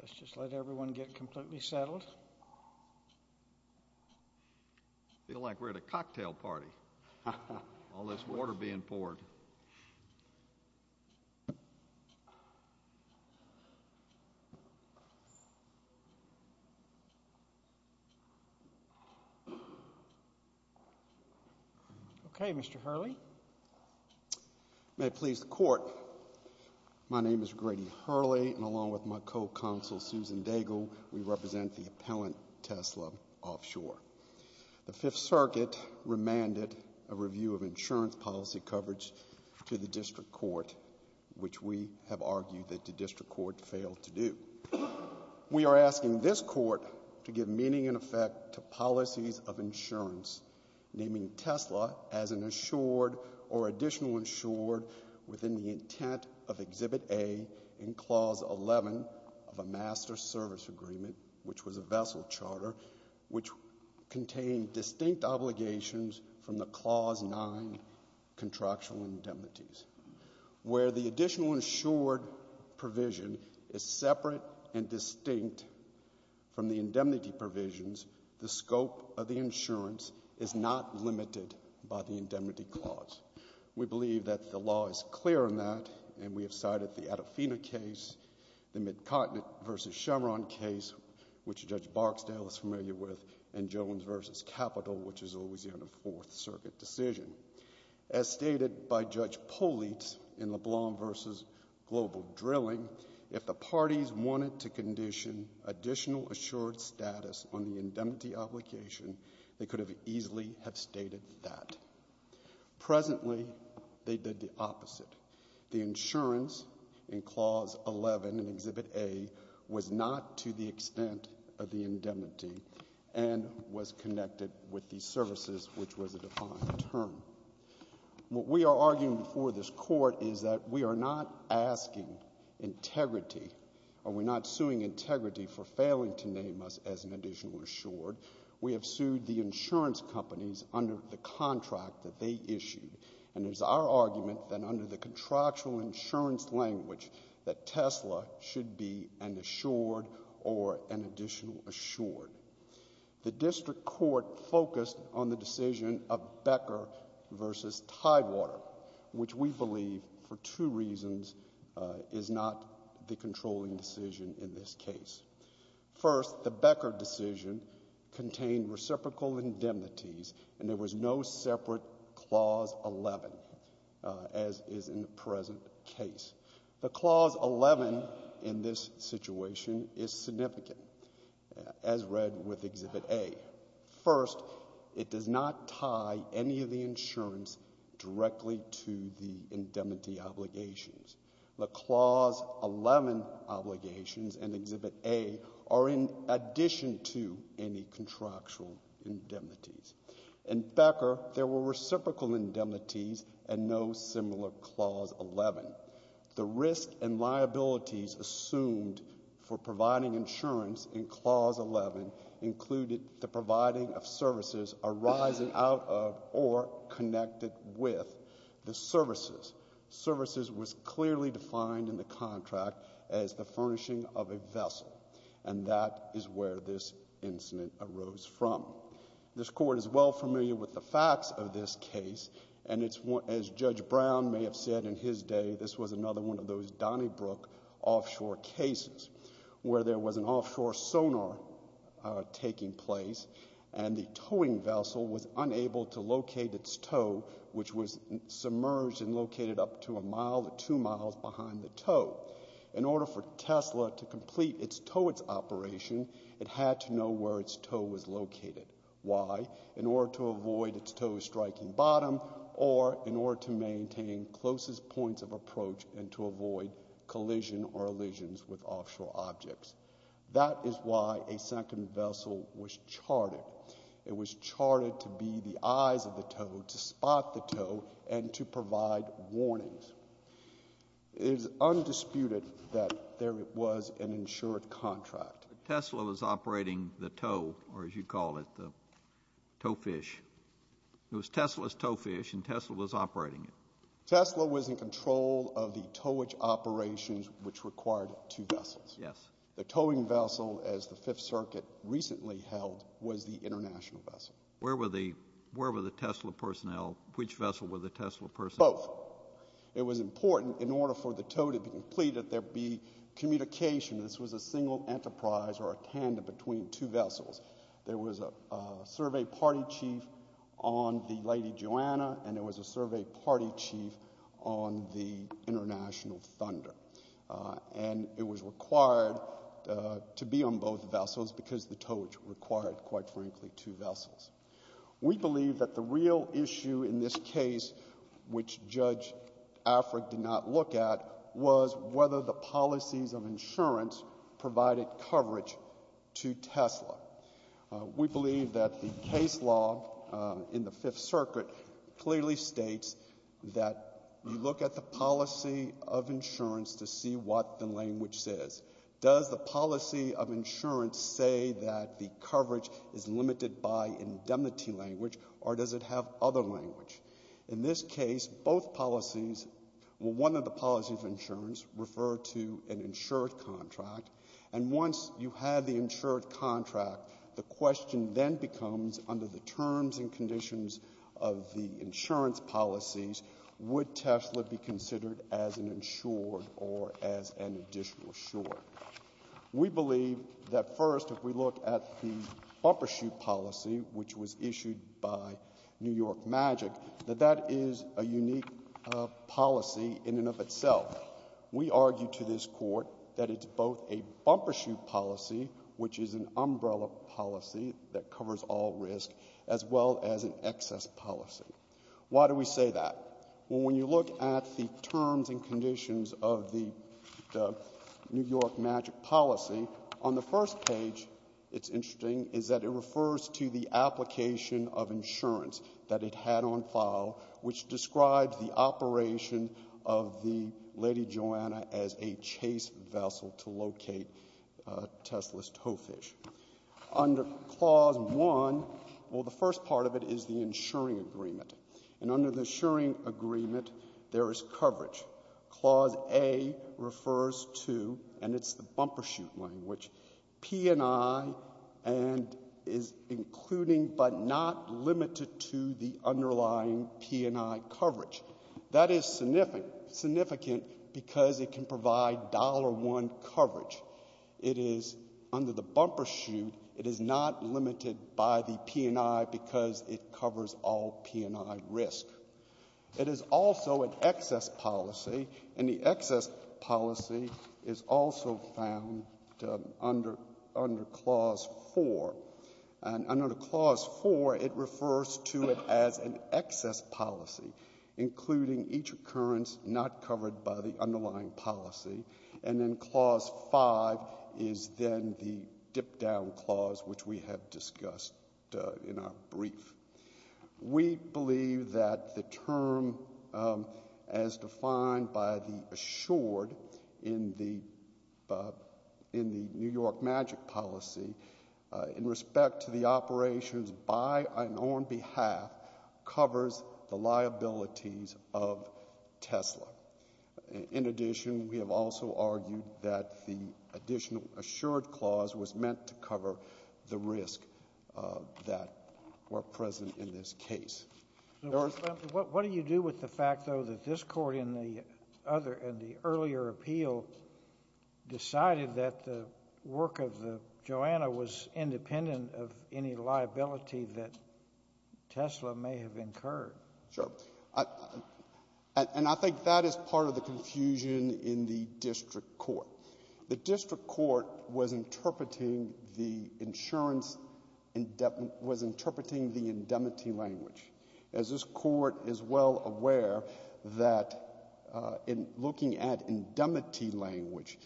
Let's just let everyone get completely settled. I feel like we're at a cocktail party, all this water being poured. Okay, Mr. Hurley. May it please the Court, my name is Grady Hurley, and along with my co-counsel Susan Daigle, we represent the appellant Tesla Offshore. The Fifth Circuit remanded a review of insurance policy coverage to the District Court, which we have argued that the District Court failed to do. We are asking this Court to give meaning and effect to policies of insurance, naming Tesla as an insured or additional insured within the intent of Exhibit A in Clause 11 of a contained distinct obligations from the Clause 9 contractual indemnities. Where the additional insured provision is separate and distinct from the indemnity provisions, the scope of the insurance is not limited by the indemnity clause. We believe that the law is clear on that, and we have cited the Adafina case, the McCartnett v. Chameron case, which Judge Barksdale is familiar with, and Jones v. Capitol, which is a Louisiana Fourth Circuit decision. As stated by Judge Polizzi in LeBlanc v. Global Drilling, if the parties wanted to condition additional assured status on the indemnity obligation, they could have easily have stated that. Presently, they did the opposite. The insurance in Clause 11 in Exhibit A was not to the extent of the indemnity and was connected with the services, which was a defined term. What we are arguing before this Court is that we are not asking integrity, or we're not suing integrity for failing to name us as an additional insured. We have sued the insurance companies under the contract that they issued, and it is our contractual insurance language that Tesla should be an assured or an additional assured. The District Court focused on the decision of Becker v. Tidewater, which we believe, for two reasons, is not the controlling decision in this case. First, the Becker decision contained reciprocal indemnities, and there was no separate Clause 11, as is in the present case. The Clause 11 in this situation is significant, as read with Exhibit A. First, it does not tie any of the insurance directly to the indemnity obligations. The Clause 11 obligations in Exhibit A are in addition to any contractual indemnities. In Becker, there were reciprocal indemnities and no similar Clause 11. The risk and liabilities assumed for providing insurance in Clause 11 included the providing of services arising out of or connected with the services. Services was clearly defined in the contract as the furnishing of a vessel, and that is where this incident arose from. This Court is well familiar with the facts of this case, and as Judge Brown may have said in his day, this was another one of those Donnybrook offshore cases, where there was an offshore sonar taking place, and the towing vessel was unable to locate its tow, which was submerged and located up to a mile to two miles behind the tow. In order for Tesla to complete its towage operation, it had to know where its tow was located. Why? In order to avoid its tow striking bottom, or in order to maintain closest points of approach and to avoid collision or elisions with offshore objects. That is why a second vessel was charted. It was charted to be the eyes of the tow, to spot the tow, and to provide warnings. It is undisputed that there was an insured contract. Tesla was operating the tow, or as you call it, the tow fish. It was Tesla's tow fish, and Tesla was operating it. Tesla was in control of the towage operations which required two vessels. The towing vessel, as the Fifth Circuit recently held, was the international vessel. Where were the Tesla personnel? Which vessel were the Tesla personnel? Both. It was important, in order for the tow to be completed, there be communication. This was a single enterprise or a tandem between two vessels. There was a survey party chief on the Lady Joanna, and there was a survey party chief on the International Thunder. It was required to be on both vessels because the towage required, quite frankly, two vessels. We believe that the real issue in this case, which Judge Afric did not look at, was whether the policies of insurance provided coverage to Tesla. We believe that the case law in the Fifth Circuit clearly states that you look at the policy of insurance to see what the language says. Does the policy of insurance say that the coverage is limited by indemnity language, or does it have other language? In this case, both policies, well, one of the policies of insurance referred to an insured contract, and once you had the insured contract, the question then becomes, under the terms and conditions of the insurance policies, would Tesla be considered as an insured or as an additional sure? We believe that, first, if we look at the bumper shoot policy, which was issued by New York Magic, that that is a unique policy in and of itself. We argue to this Court that it's both a bumper shoot policy, which is an umbrella policy that covers all risk, as well as an excess policy. Why do we say that? Well, when you look at the terms and conditions of the New York Magic policy, on the first page, it's interesting, is that it refers to the application of insurance that it had on file, which describes the operation of the Lady Joanna as a chase vessel to locate Tesla's tow fish. Under Clause 1, well, the first part of it is the insuring agreement. And under the insuring agreement, there is coverage. Clause A refers to, and it's the bumper shoot language, P&I, and is including but not limited to the underlying P&I coverage. That is significant because it can provide dollar one coverage. It is under the bumper shoot. It is not limited by the P&I because it covers all P&I risk. It is also an excess policy, and the excess policy is also found under Clause 4. And under Clause 4, it refers to it as an excess policy, including each occurrence not covered by the underlying policy. And then Clause 5 is then the dip down clause, which we have discussed in our brief. We believe that the term, as defined by the assured in the New York Magic policy, in respect to the operations by and on behalf, covers the liabilities of Tesla. In addition, we have also argued that the additional assured clause was meant to cover the risk that were present in this case. What do you do with the fact, though, that this court and the earlier appeal decided that the work of the Joanna was independent of any liability that Tesla may have incurred? Sure. And I think that is part of the confusion in the district court. The district court was interpreting the insurance, was interpreting the indemnity language. As this court is well aware that in looking at indemnity language,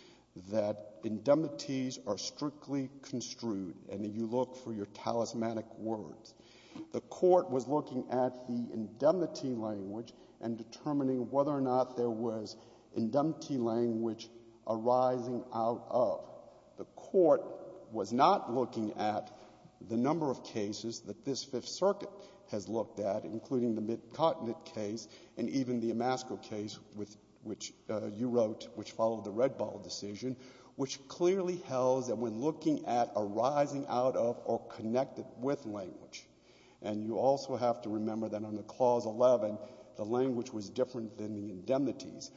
that indemnities are strictly construed, and you look for your talismanic words. The court was looking at the indemnity language and determining whether or not there was indemnity language arising out of. The court was not looking at the number of cases that this Fifth Circuit has looked at, including the Mid-Continent case and even the Amasco case, which you wrote, which followed the Red Ball decision, which clearly held that when looking at arising out of or connected with language, and you also have to remember that on the Clause 11, the language was different than the indemnities.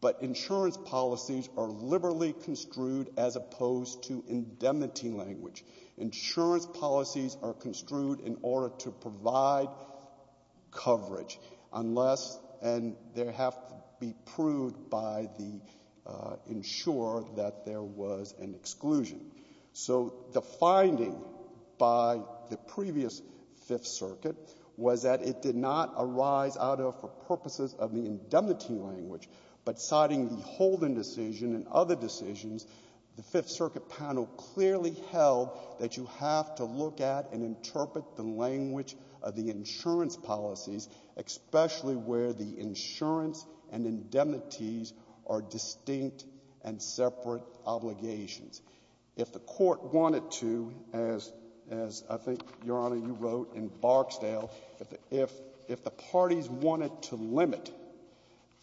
But insurance policies are liberally construed as opposed to indemnity language. Insurance policies are construed in order to provide coverage unless, and they have to be proved by the insurer that there was an exclusion. So the finding by the previous Fifth Circuit was that it did not arise out of or purposes of the indemnity language, but citing the Holden decision and other decisions, the Fifth Circuit panel clearly held that you have to look at and interpret the language of the insurance policies, especially where the insurance and indemnities are distinct and separate obligations. If the Court wanted to, as I think, Your Honor, you wrote in Barksdale, if the parties wanted to limit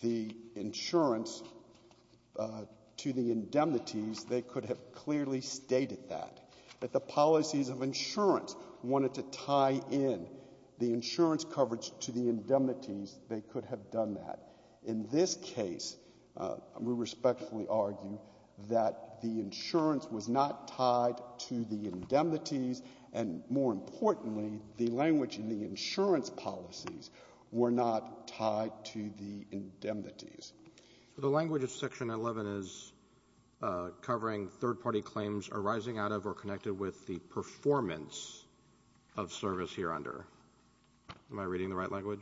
the insurance to the indemnities, they could have clearly stated that. If the policies of insurance wanted to tie in the insurance coverage to the indemnities, they could have done that. In this case, we respectfully argue that the insurance was not tied to the indemnities, and more importantly, the language in the insurance policies were not tied to the indemnities. The language of Section 11 is covering third-party claims arising out of or connected with the performance of service hereunder. Am I reading the right language?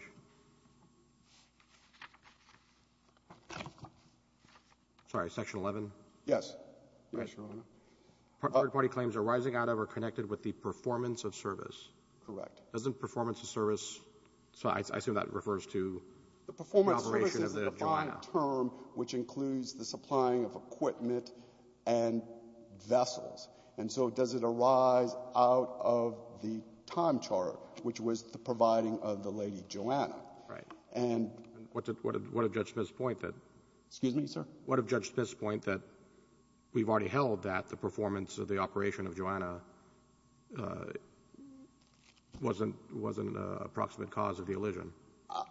Sorry, Section 11? Yes. Yes, Your Honor. Third-party claims arising out of or connected with the performance of service. Correct. Doesn't performance of service — I assume that refers to the operation of the — The performance of service is a defined term which includes the supplying of equipment and vessels. And so does it arise out of the time chart, which was the providing of the Lady Joanna? Right. And — What did Judge Smith's point that — Excuse me, sir? What did Judge Smith's point that we've already held that the performance of the operation of Joanna wasn't an approximate cause of the elision?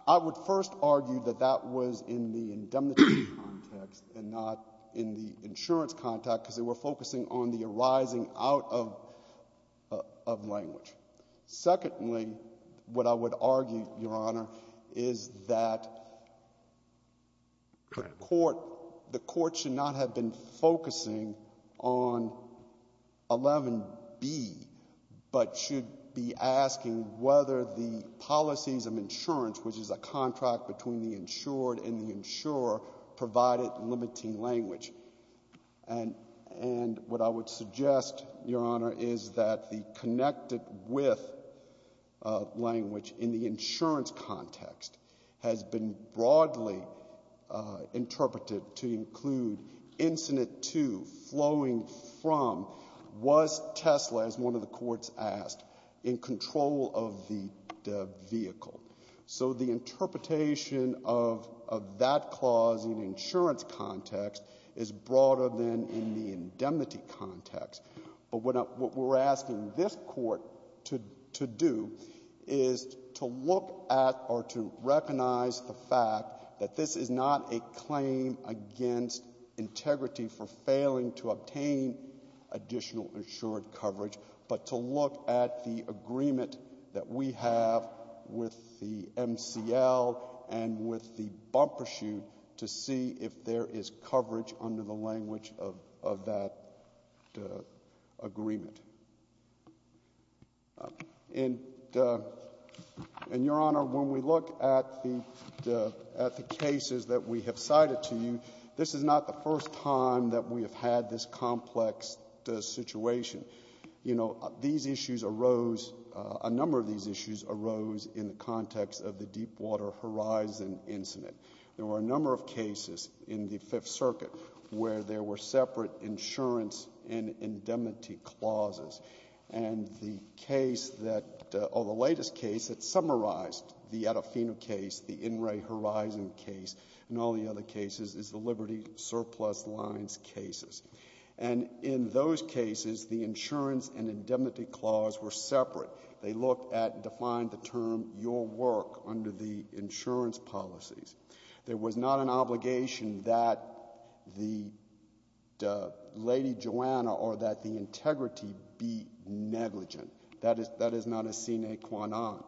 I would first argue that that was in the indemnity context and not in the insurance context because they were focusing on the arising out of language. Secondly, what I would argue, Your Honor, is that the court should not have been focusing on 11B but should be asking whether the policies of insurance, which is a contract between the insured and the insurer, provided limiting language. And what I would suggest, Your Honor, is that the connected with language in the insurance context has been broadly interpreted to include incident two flowing from was Tesla, as one of the courts asked, in control of the vehicle. So the interpretation of that clause in the insurance context is broader than in the indemnity context. But what we're asking this Court to do is to look at or to recognize the fact that this is not a claim against integrity for failing to obtain additional insured coverage, but to look at the agreement that we have with the MCL and with the bumper shoot to see if there is coverage under the language of that agreement. And, Your Honor, when we look at the cases that we have cited to you, this is not the first time that we have had this complex situation. You know, these issues arose, a number of these issues arose in the context of the Deep Water Horizon incident. There were a number of cases in the Fifth Circuit where there were separate insurance and indemnity clauses. And the case that, or the latest case that summarized the Adofino case, the In Re Horizon case, and all the other cases, is the Liberty Surplus Lines cases. And in those cases, the insurance and indemnity clause were separate. They looked at and defined the term your work under the insurance policies. There was not an obligation that the Lady Joanna or that the integrity be negligent. That is not a sine qua non.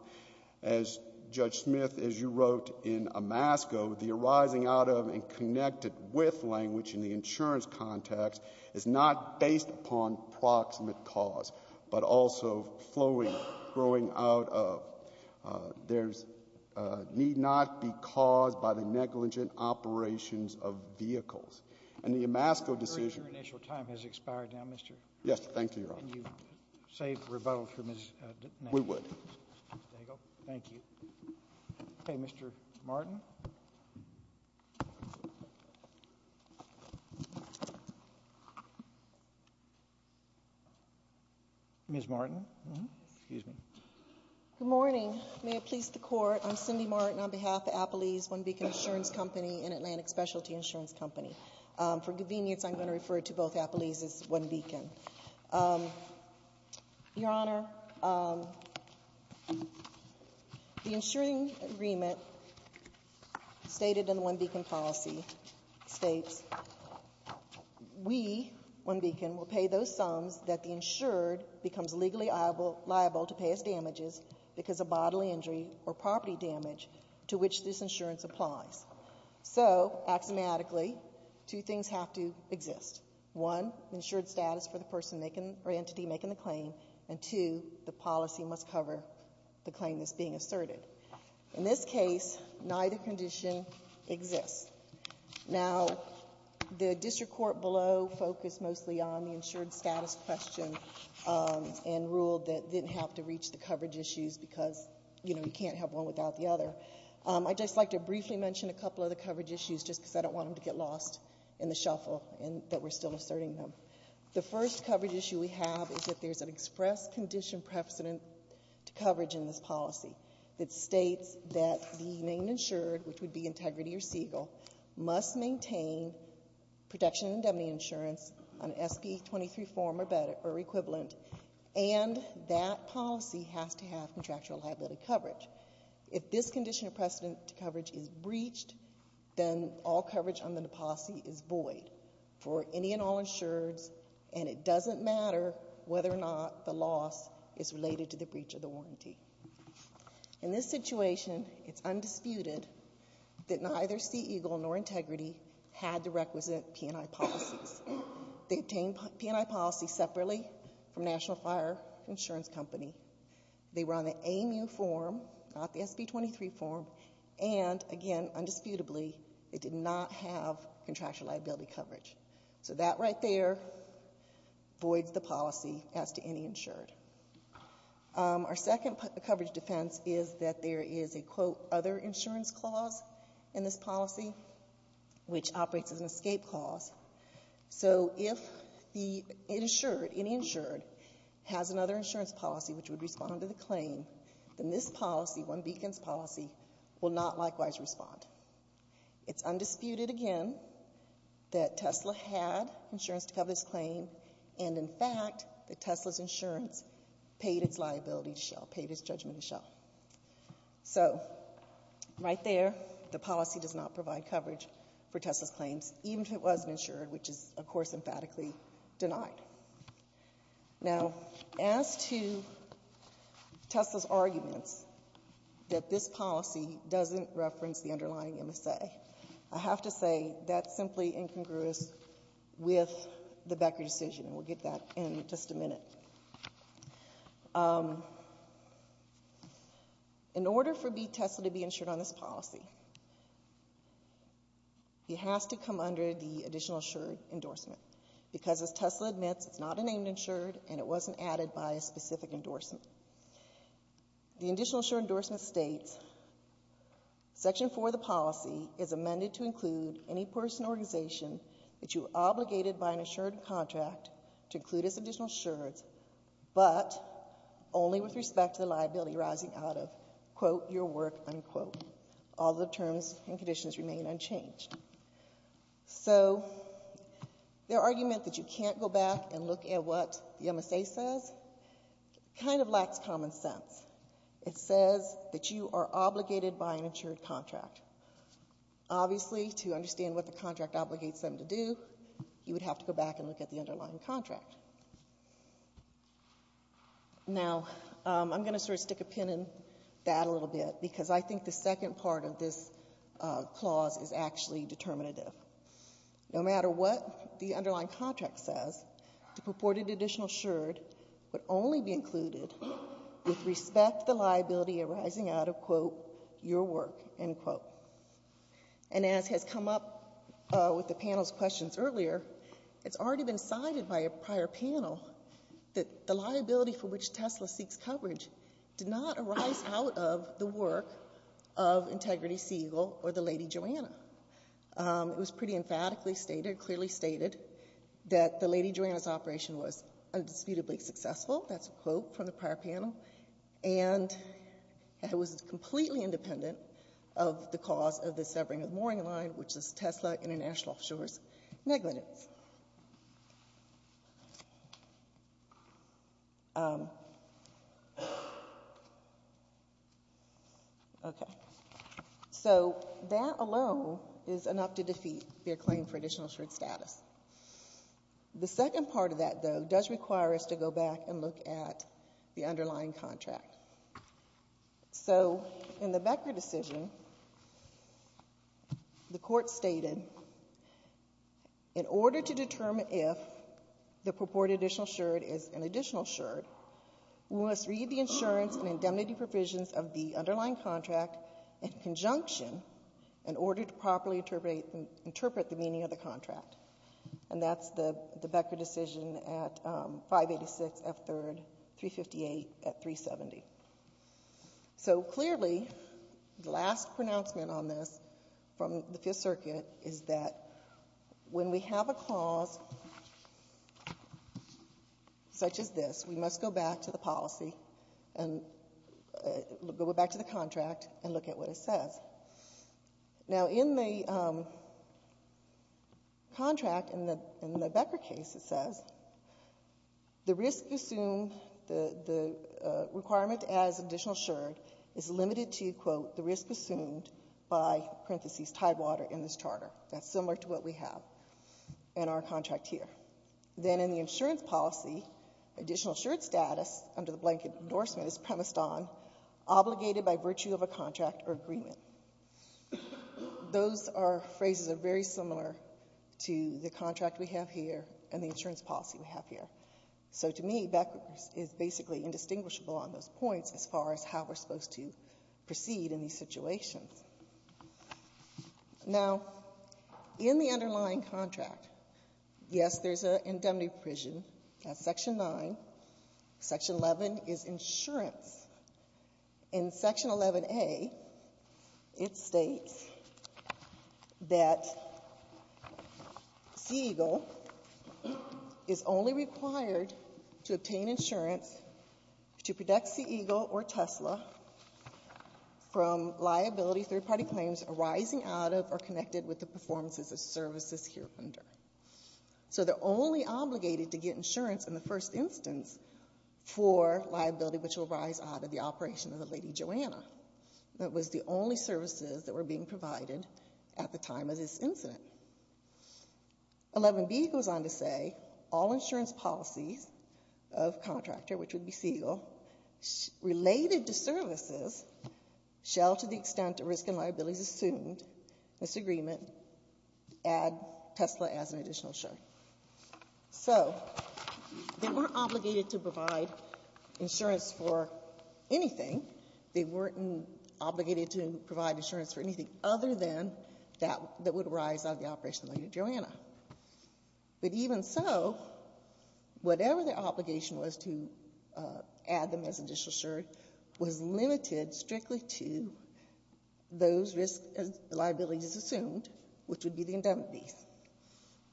As Judge Smith, as you wrote in Amasco, the arising out of and connected with language in the insurance context is not based upon proximate cause, but also flowing, growing out of. There's need not be caused by the negligent operations of vehicles. And the Amasco decision — I'm afraid your initial time has expired now, Mr. — Yes, thank you, Your Honor. Can you save rebuttal for Ms. — We would. There you go. Thank you. Okay. Ms. Martin. Good morning. May it please the Court, I'm Cindy Martin on behalf of Appleys, One Beacon Insurance Company, an Atlantic specialty insurance company. For convenience, I'm going to refer to both Appleys as One Beacon. Your Honor, the insuring agreement stated in the One Beacon policy states, we, One Beacon, will pay those sums that the insured becomes legally liable to pay as damages because of bodily injury or property damage to which this insurance applies. So, axiomatically, two things have to exist. One, insured status for the person making or entity making the claim. And two, the policy must cover the claim that's being asserted. In this case, neither condition exists. Now, the district court below focused mostly on the insured status question and ruled that it didn't have to reach the coverage issues because, you know, you can't have one without the other. I'd just like to briefly mention a couple of the coverage issues just because I don't want them to get lost in the shuffle and that we're still asserting them. The first coverage issue we have is that there's an express condition precedent to coverage in this policy that states that the main insured, which would be Integrity or Siegel, must maintain protection and indemnity insurance, an SB 23 form or equivalent, and that policy has to have contractual liability coverage. If this condition of precedent to coverage is breached, then all coverage on the policy is void for any and all insureds, and it doesn't matter whether or not the loss is related to the breach of the warranty. In this situation, it's undisputed that neither Siegel nor Integrity had the requisite P&I policies. They obtained P&I policies separately from National Fire Insurance Company. They were on the AMU form, not the SB 23 form, and, again, undisputably, they did not have contractual liability coverage. So that right there voids the policy as to any insured. Our second coverage defense is that there is a, quote, other insurance clause in this policy, which operates as an escape clause. So if the insured, any insured, has another insurance policy which would respond to the claim, then this policy, One Beacon's policy, will not likewise respond. It's undisputed, again, that Tesla had insurance to cover this claim, and, in fact, that Tesla's insurance paid its liability to Shell, paid its judgment to Shell. So right there, the policy does not provide coverage for Tesla's claims, even if it wasn't insured, which is, of course, emphatically denied. Now, as to Tesla's arguments that this policy doesn't reference the underlying MSA, I have to say that's simply incongruous with the Becker decision, and we'll get that in just a minute. In order for Tesla to be insured on this policy, he has to come under the additional insured endorsement, because, as Tesla admits, it's not a named insured, and it wasn't added by a specific endorsement. The additional insured endorsement states, Section 4 of the policy is amended to include any person or organization that you are obligated by an insured contract to include as additional insured, but only with respect to the liability arising out of, quote, your work, unquote. All the terms and conditions remain unchanged. So, their argument that you can't go back and look at what the MSA says kind of lacks common sense. It says that you are obligated by an insured contract. Obviously, to understand what the contract obligates them to do, you would have to go Now, I'm going to sort of stick a pin in that a little bit, because I think the second part of this clause is actually determinative. No matter what the underlying contract says, the purported additional insured would only be included with respect to the liability arising out of, quote, your work, unquote. And as has come up with the panel's questions earlier, it's already been cited by a prior panel that the liability for which Tesla seeks coverage did not arise out of the work of Integrity Siegel or the Lady Joanna. It was pretty emphatically stated, clearly stated, that the Lady Joanna's operation was undisputably successful. That's a quote from the prior panel. And it was completely independent of the cause of the severing of the mooring line, which is Tesla International Offshore's negligence. Okay. So that alone is enough to defeat their claim for additional insured status. The second part of that, though, does require us to go back and look at the underlying contract. So in the Becker decision, the Court stated, in order to determine if the purported additional insured is an additional insured, we must read the insurance and indemnity provisions of the underlying contract in conjunction in order to properly interpret the meaning of the contract. And that's the Becker decision at 586 F3rd, 358 at 370. So clearly, the last pronouncement on this from the Fifth Circuit is that when we have a clause such as this, we must go back to the policy and go back to the contract and look at what it says. Now, in the contract, in the Becker case, it says, the risk assumed, the requirement as additional insured is limited to, quote, the risk assumed by, parenthesis, Tidewater in this charter. That's similar to what we have in our contract here. Then in the insurance policy, additional insured status under the blanket endorsement is premised on, obligated by virtue of a contract or agreement. Those phrases are very similar to the contract we have here and the insurance policy we have here. So to me, Becker is basically indistinguishable on those points as far as how we're supposed to proceed in these situations. Now, in the underlying contract, yes, there's an indemnity provision. That's Section 9. Section 11 is insurance. In Section 11A, it states that Sea Eagle is only required to obtain insurance to protect Sea Eagle or Tesla from liability third-party claims arising out of or connected with the performances of services here under. So they're only obligated to get insurance in the first instance for liability which will rise out of the operation of the Lady Joanna. That was the only services that were being provided at the time of this incident. 11B goes on to say, all insurance policies of contractor, which would be Sea Eagle, related to services shall, to the extent of risk and liabilities assumed, this agreement, add Tesla as an additional sure. So they weren't obligated to provide insurance for anything. They weren't obligated to provide insurance for anything other than that would rise out of the operation of the Lady Joanna. But even so, whatever their obligation was to add them as additional sure was limited strictly to those risk and liabilities assumed, which would be the indemnities.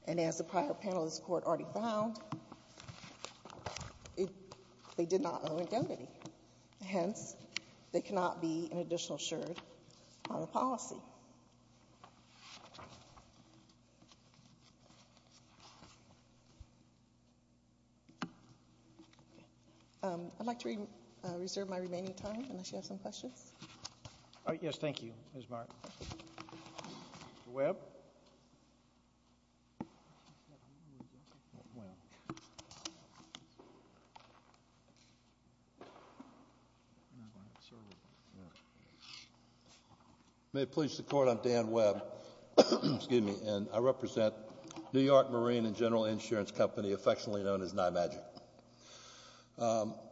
And as the prior panel of this Court already found, they did not owe indemnity. Hence, they cannot be an additional sure on a policy. I'd like to reserve my remaining time unless you have some questions. Yes, thank you, Ms. Mark. Mr. Webb? May it please the Court, I'm Dan Webb. Excuse me. And I represent New York Marine and General Insurance Company, affectionately known as NIMAGIC.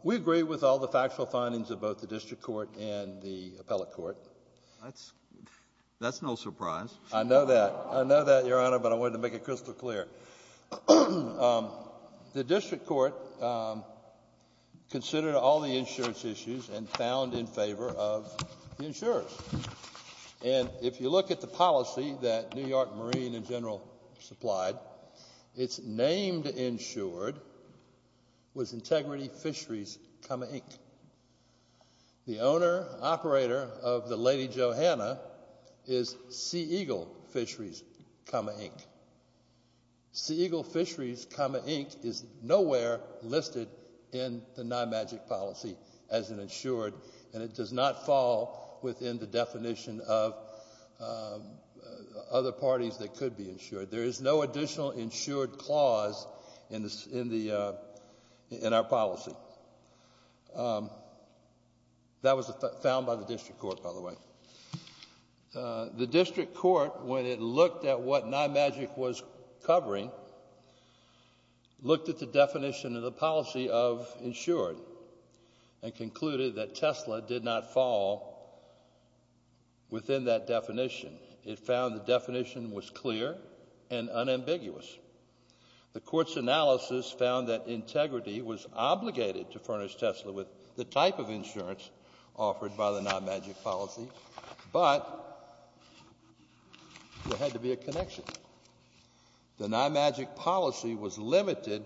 We agree with all the factual findings of both the District Court and the Appellate Court. That's no surprise. I know that. I know that, Your Honor, but I wanted to make it crystal clear. The District Court considered all the insurance issues and found in favor of the insurers. And if you look at the policy that New York Marine and General supplied, its named insured was Integrity Fisheries, Inc. The owner and operator of the Lady Joanna is Sea Eagle Fisheries, Inc. Sea Eagle Fisheries, Inc. is nowhere listed in the NIMAGIC policy as an insured, and it does not fall within the definition of other parties that could be insured. There is no additional insured clause in our policy. That was found by the District Court, by the way. The District Court, when it looked at what NIMAGIC was covering, looked at the definition of the policy of insured and concluded that Tesla did not fall within that definition. It found the definition was clear and unambiguous. The Court's analysis found that Integrity was obligated to furnish Tesla with the type of insurance offered by the NIMAGIC policy, but there had to be a connection. The NIMAGIC policy was limited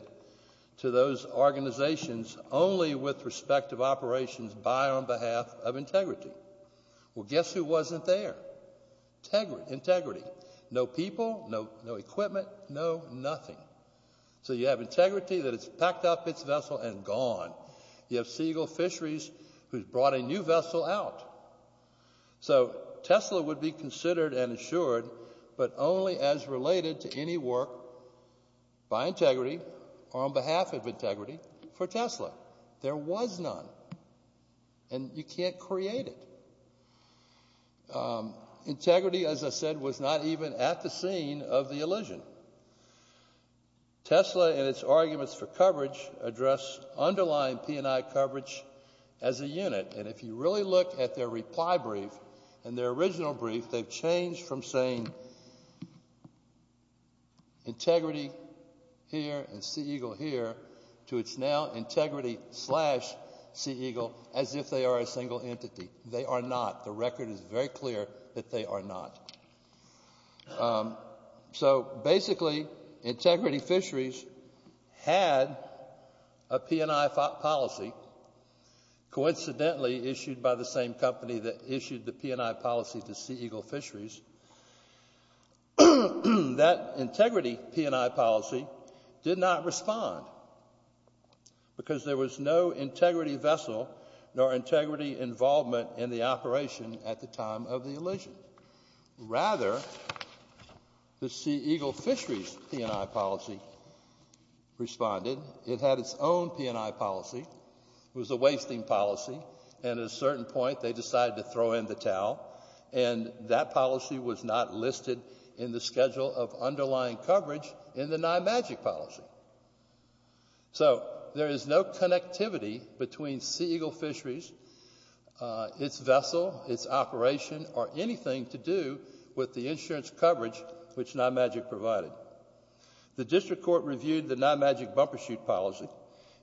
to those organizations only with respect of operations by or on behalf of Integrity. Well, guess who wasn't there? Integrity. No people, no equipment, no nothing. So you have Integrity that has packed up its vessel and gone. You have Sea Eagle Fisheries who's brought a new vessel out. So Tesla would be considered and insured, but only as related to any work by Integrity or on behalf of Integrity for Tesla. There was none, and you can't create it. Integrity, as I said, was not even at the scene of the elision. Tesla and its arguments for coverage address underlying P&I coverage as a unit, and if you really look at their reply brief and their original brief, they've changed from saying Integrity here and Sea Eagle here to it's now Integrity slash Sea Eagle as if they are a single entity. They are not. The record is very clear that they are not. So basically, Integrity Fisheries had a P&I policy. Coincidentally, issued by the same company that issued the P&I policy to Sea Eagle Fisheries, that Integrity P&I policy did not respond because there was no Integrity vessel nor Integrity involvement in the operation at the time of the elision. Rather, the Sea Eagle Fisheries P&I policy responded. It had its own P&I policy. It was a wasting policy, and at a certain point they decided to throw in the towel, and that policy was not listed in the schedule of underlying coverage in the NIMAGIC policy. So there is no connectivity between Sea Eagle Fisheries, its vessel, its operation, or anything to do with the insurance coverage which NIMAGIC provided. The district court reviewed the NIMAGIC bumper chute policy.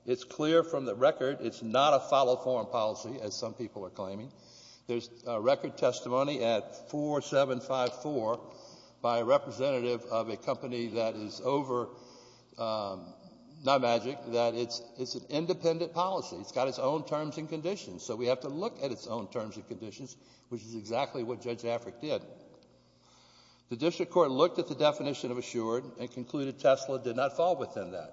It's clear from the record it's not a follow-form policy, as some people are claiming. There's record testimony at 4754 by a representative of a company that is over NIMAGIC that it's an independent policy. It's got its own terms and conditions, so we have to look at its own terms and conditions, which is exactly what Judge Afric did. The district court looked at the definition of assured and concluded Tesla did not fall within that,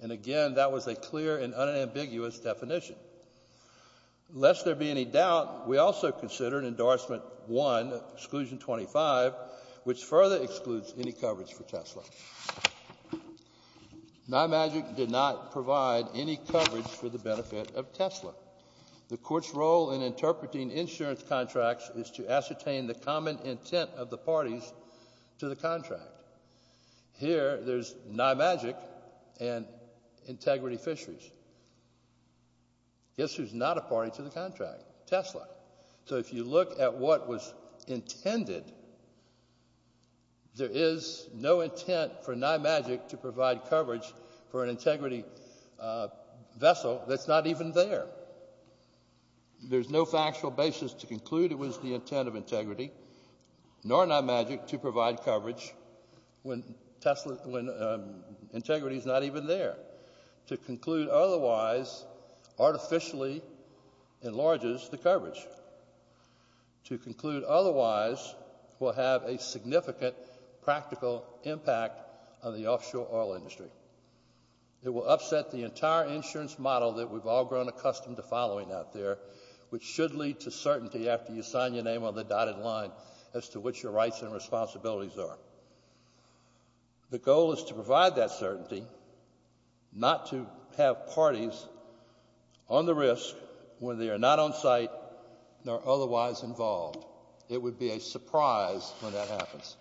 and again, that was a clear and unambiguous definition. Lest there be any doubt, we also considered Endorsement 1, Exclusion 25, which further excludes any coverage for Tesla. NIMAGIC did not provide any coverage for the benefit of Tesla. The court's role in interpreting insurance contracts is to ascertain the common intent of the parties to the contract. Here, there's NIMAGIC and Integrity Fisheries. Guess who's not a party to the contract? Tesla. So if you look at what was intended, there is no intent for NIMAGIC to provide coverage for an Integrity vessel that's not even there. There's no factual basis to conclude it was the intent of Integrity, nor NIMAGIC to provide coverage when Integrity's not even there. To conclude otherwise artificially enlarges the coverage. To conclude otherwise will have a significant practical impact on the offshore oil industry. It will upset the entire insurance model that we've all grown accustomed to following out there, which should lead to certainty after you sign your name on the dotted line as to what your rights and responsibilities are. The goal is to provide that certainty, not to have parties on the risk when they are not on site nor otherwise involved. It would be a surprise when that happens.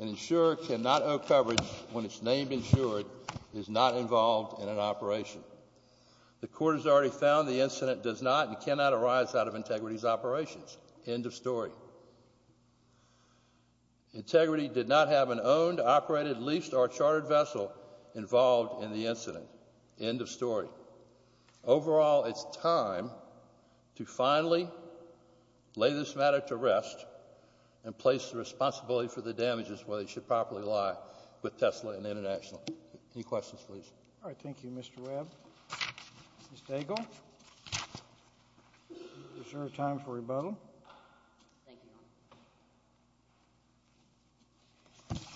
An insurer cannot owe coverage when its name insured is not involved in an operation. The court has already found the incident does not and cannot arise out of Integrity's operations. End of story. Integrity did not have an owned, operated, leased, or chartered vessel involved in the incident. End of story. Overall, it's time to finally lay this matter to rest and place the responsibility for the damages where they should properly lie with Tesla and International. Any questions, please? All right. Thank you, Mr. Webb. Ms. Daigle, is there a time for rebuttal? Thank you, Your Honor.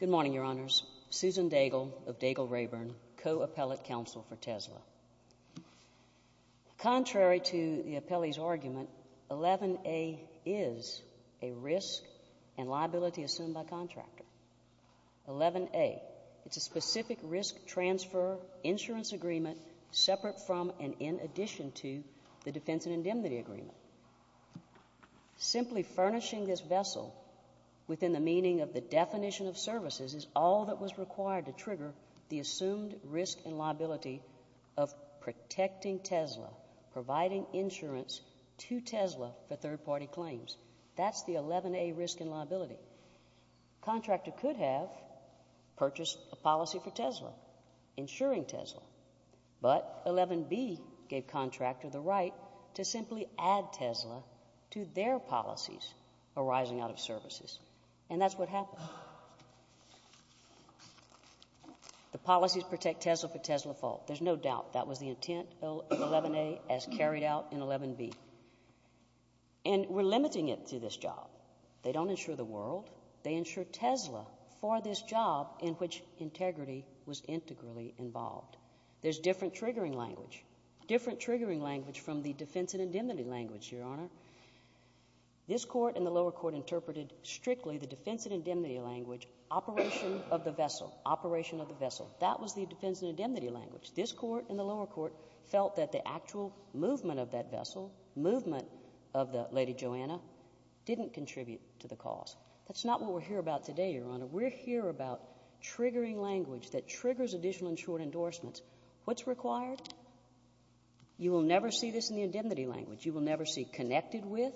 Good morning, Your Honors. Susan Daigle of Daigle Rayburn, co-appellate counsel for Tesla. Contrary to the appellee's argument, 11A is a risk and liability assumed by a contractor. 11A, it's a specific risk transfer insurance agreement separate from and in addition to the defense and indemnity agreement. Simply furnishing this vessel within the meaning of the definition of services is all that was required to trigger the assumed risk and liability of protecting Tesla, providing insurance to Tesla for third-party claims. That's the 11A risk and liability. Contractor could have purchased a policy for Tesla, insuring Tesla, but 11B gave contractor the right to simply add Tesla to their policies arising out of services. And that's what happened. The policies protect Tesla for Tesla's fault. There's no doubt that was the intent of 11A as carried out in 11B. And we're limiting it to this job. They don't insure the world. They insure Tesla for this job in which integrity was integrally involved. There's different triggering language, different triggering language from the defense and indemnity language, Your Honor. This court and the lower court interpreted strictly the defense and indemnity language, operation of the vessel, operation of the vessel. That was the defense and indemnity language. This court and the lower court felt that the actual movement of that vessel, movement of the Lady Joanna, didn't contribute to the cause. That's not what we're here about today, Your Honor. We're here about triggering language that triggers additional insured endorsements. What's required? You will never see this in the indemnity language. You will never see connected with.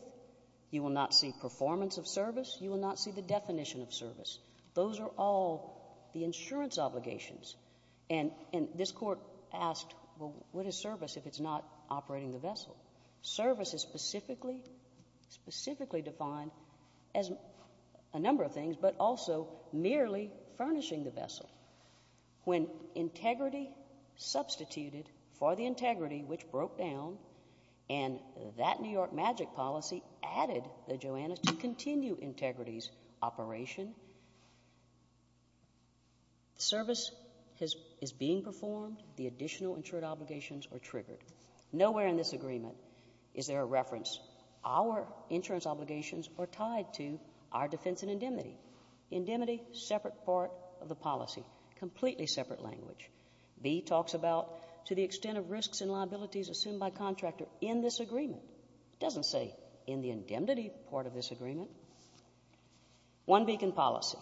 You will not see performance of service. You will not see the definition of service. Those are all the insurance obligations. Service is specifically defined as a number of things, but also merely furnishing the vessel. When integrity substituted for the integrity, which broke down, and that New York magic policy added the Joannas to continue integrity's operation, service is being performed. The additional insured obligations are triggered. Nowhere in this agreement is there a reference, our insurance obligations are tied to our defense and indemnity. Indemnity, separate part of the policy, completely separate language. B talks about to the extent of risks and liabilities assumed by contractor in this agreement. It doesn't say in the indemnity part of this agreement. One beacon policy.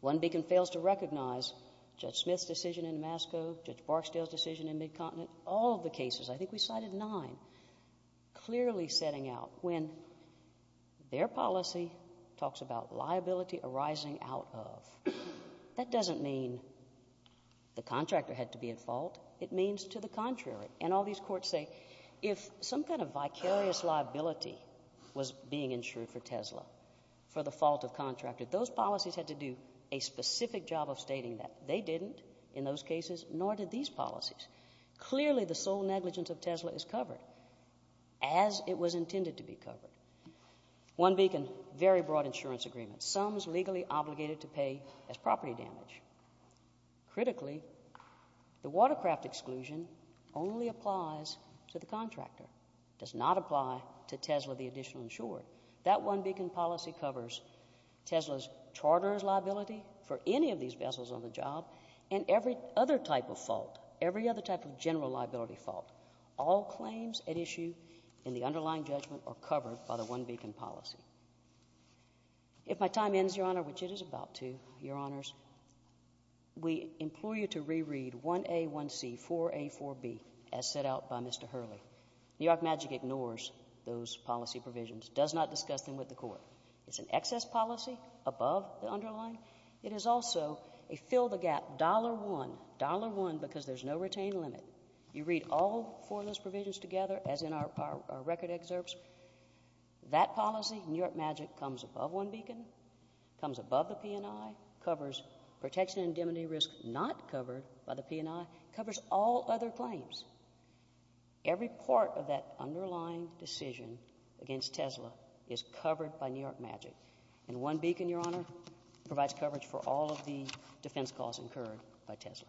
One beacon fails to recognize Judge Smith's decision in Damasco, Judge Barksdale's decision in Mid-Continent. All of the cases, I think we cited nine, clearly setting out when their policy talks about liability arising out of. That doesn't mean the contractor had to be at fault. It means to the contrary, and all these courts say, if some kind of vicarious liability was being insured for Tesla for the fault of contractor, those policies had to do a specific job of stating that. They didn't in those cases, nor did these policies. Clearly, the sole negligence of Tesla is covered as it was intended to be covered. One beacon, very broad insurance agreement. Some is legally obligated to pay as property damage. Critically, the watercraft exclusion only applies to the contractor. It does not apply to Tesla, the additional insured. That one beacon policy covers Tesla's charter's liability for any of these vessels on the job and every other type of fault, every other type of general liability fault. All claims at issue in the underlying judgment are covered by the one beacon policy. If my time ends, Your Honor, which it is about to, Your Honors, we implore you to reread 1A1C, 4A4B, as set out by Mr. Hurley. New York Magic ignores those policy provisions, does not discuss them with the court. It's an excess policy above the underlying. It is also a fill-the-gap $1, $1 because there's no retained limit. You read all four of those provisions together, as in our record excerpts. That policy, New York Magic, comes above one beacon, comes above the P&I, covers protection and indemnity risk not covered by the P&I, covers all other claims. Every part of that underlying decision against Tesla is covered by New York Magic. And one beacon, Your Honor, provides coverage for all of the defense calls incurred by Tesla.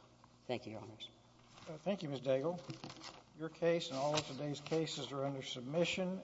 Thank you, Your Honors. Thank you, Ms. Daigle. Your case and all of today's cases are under submission.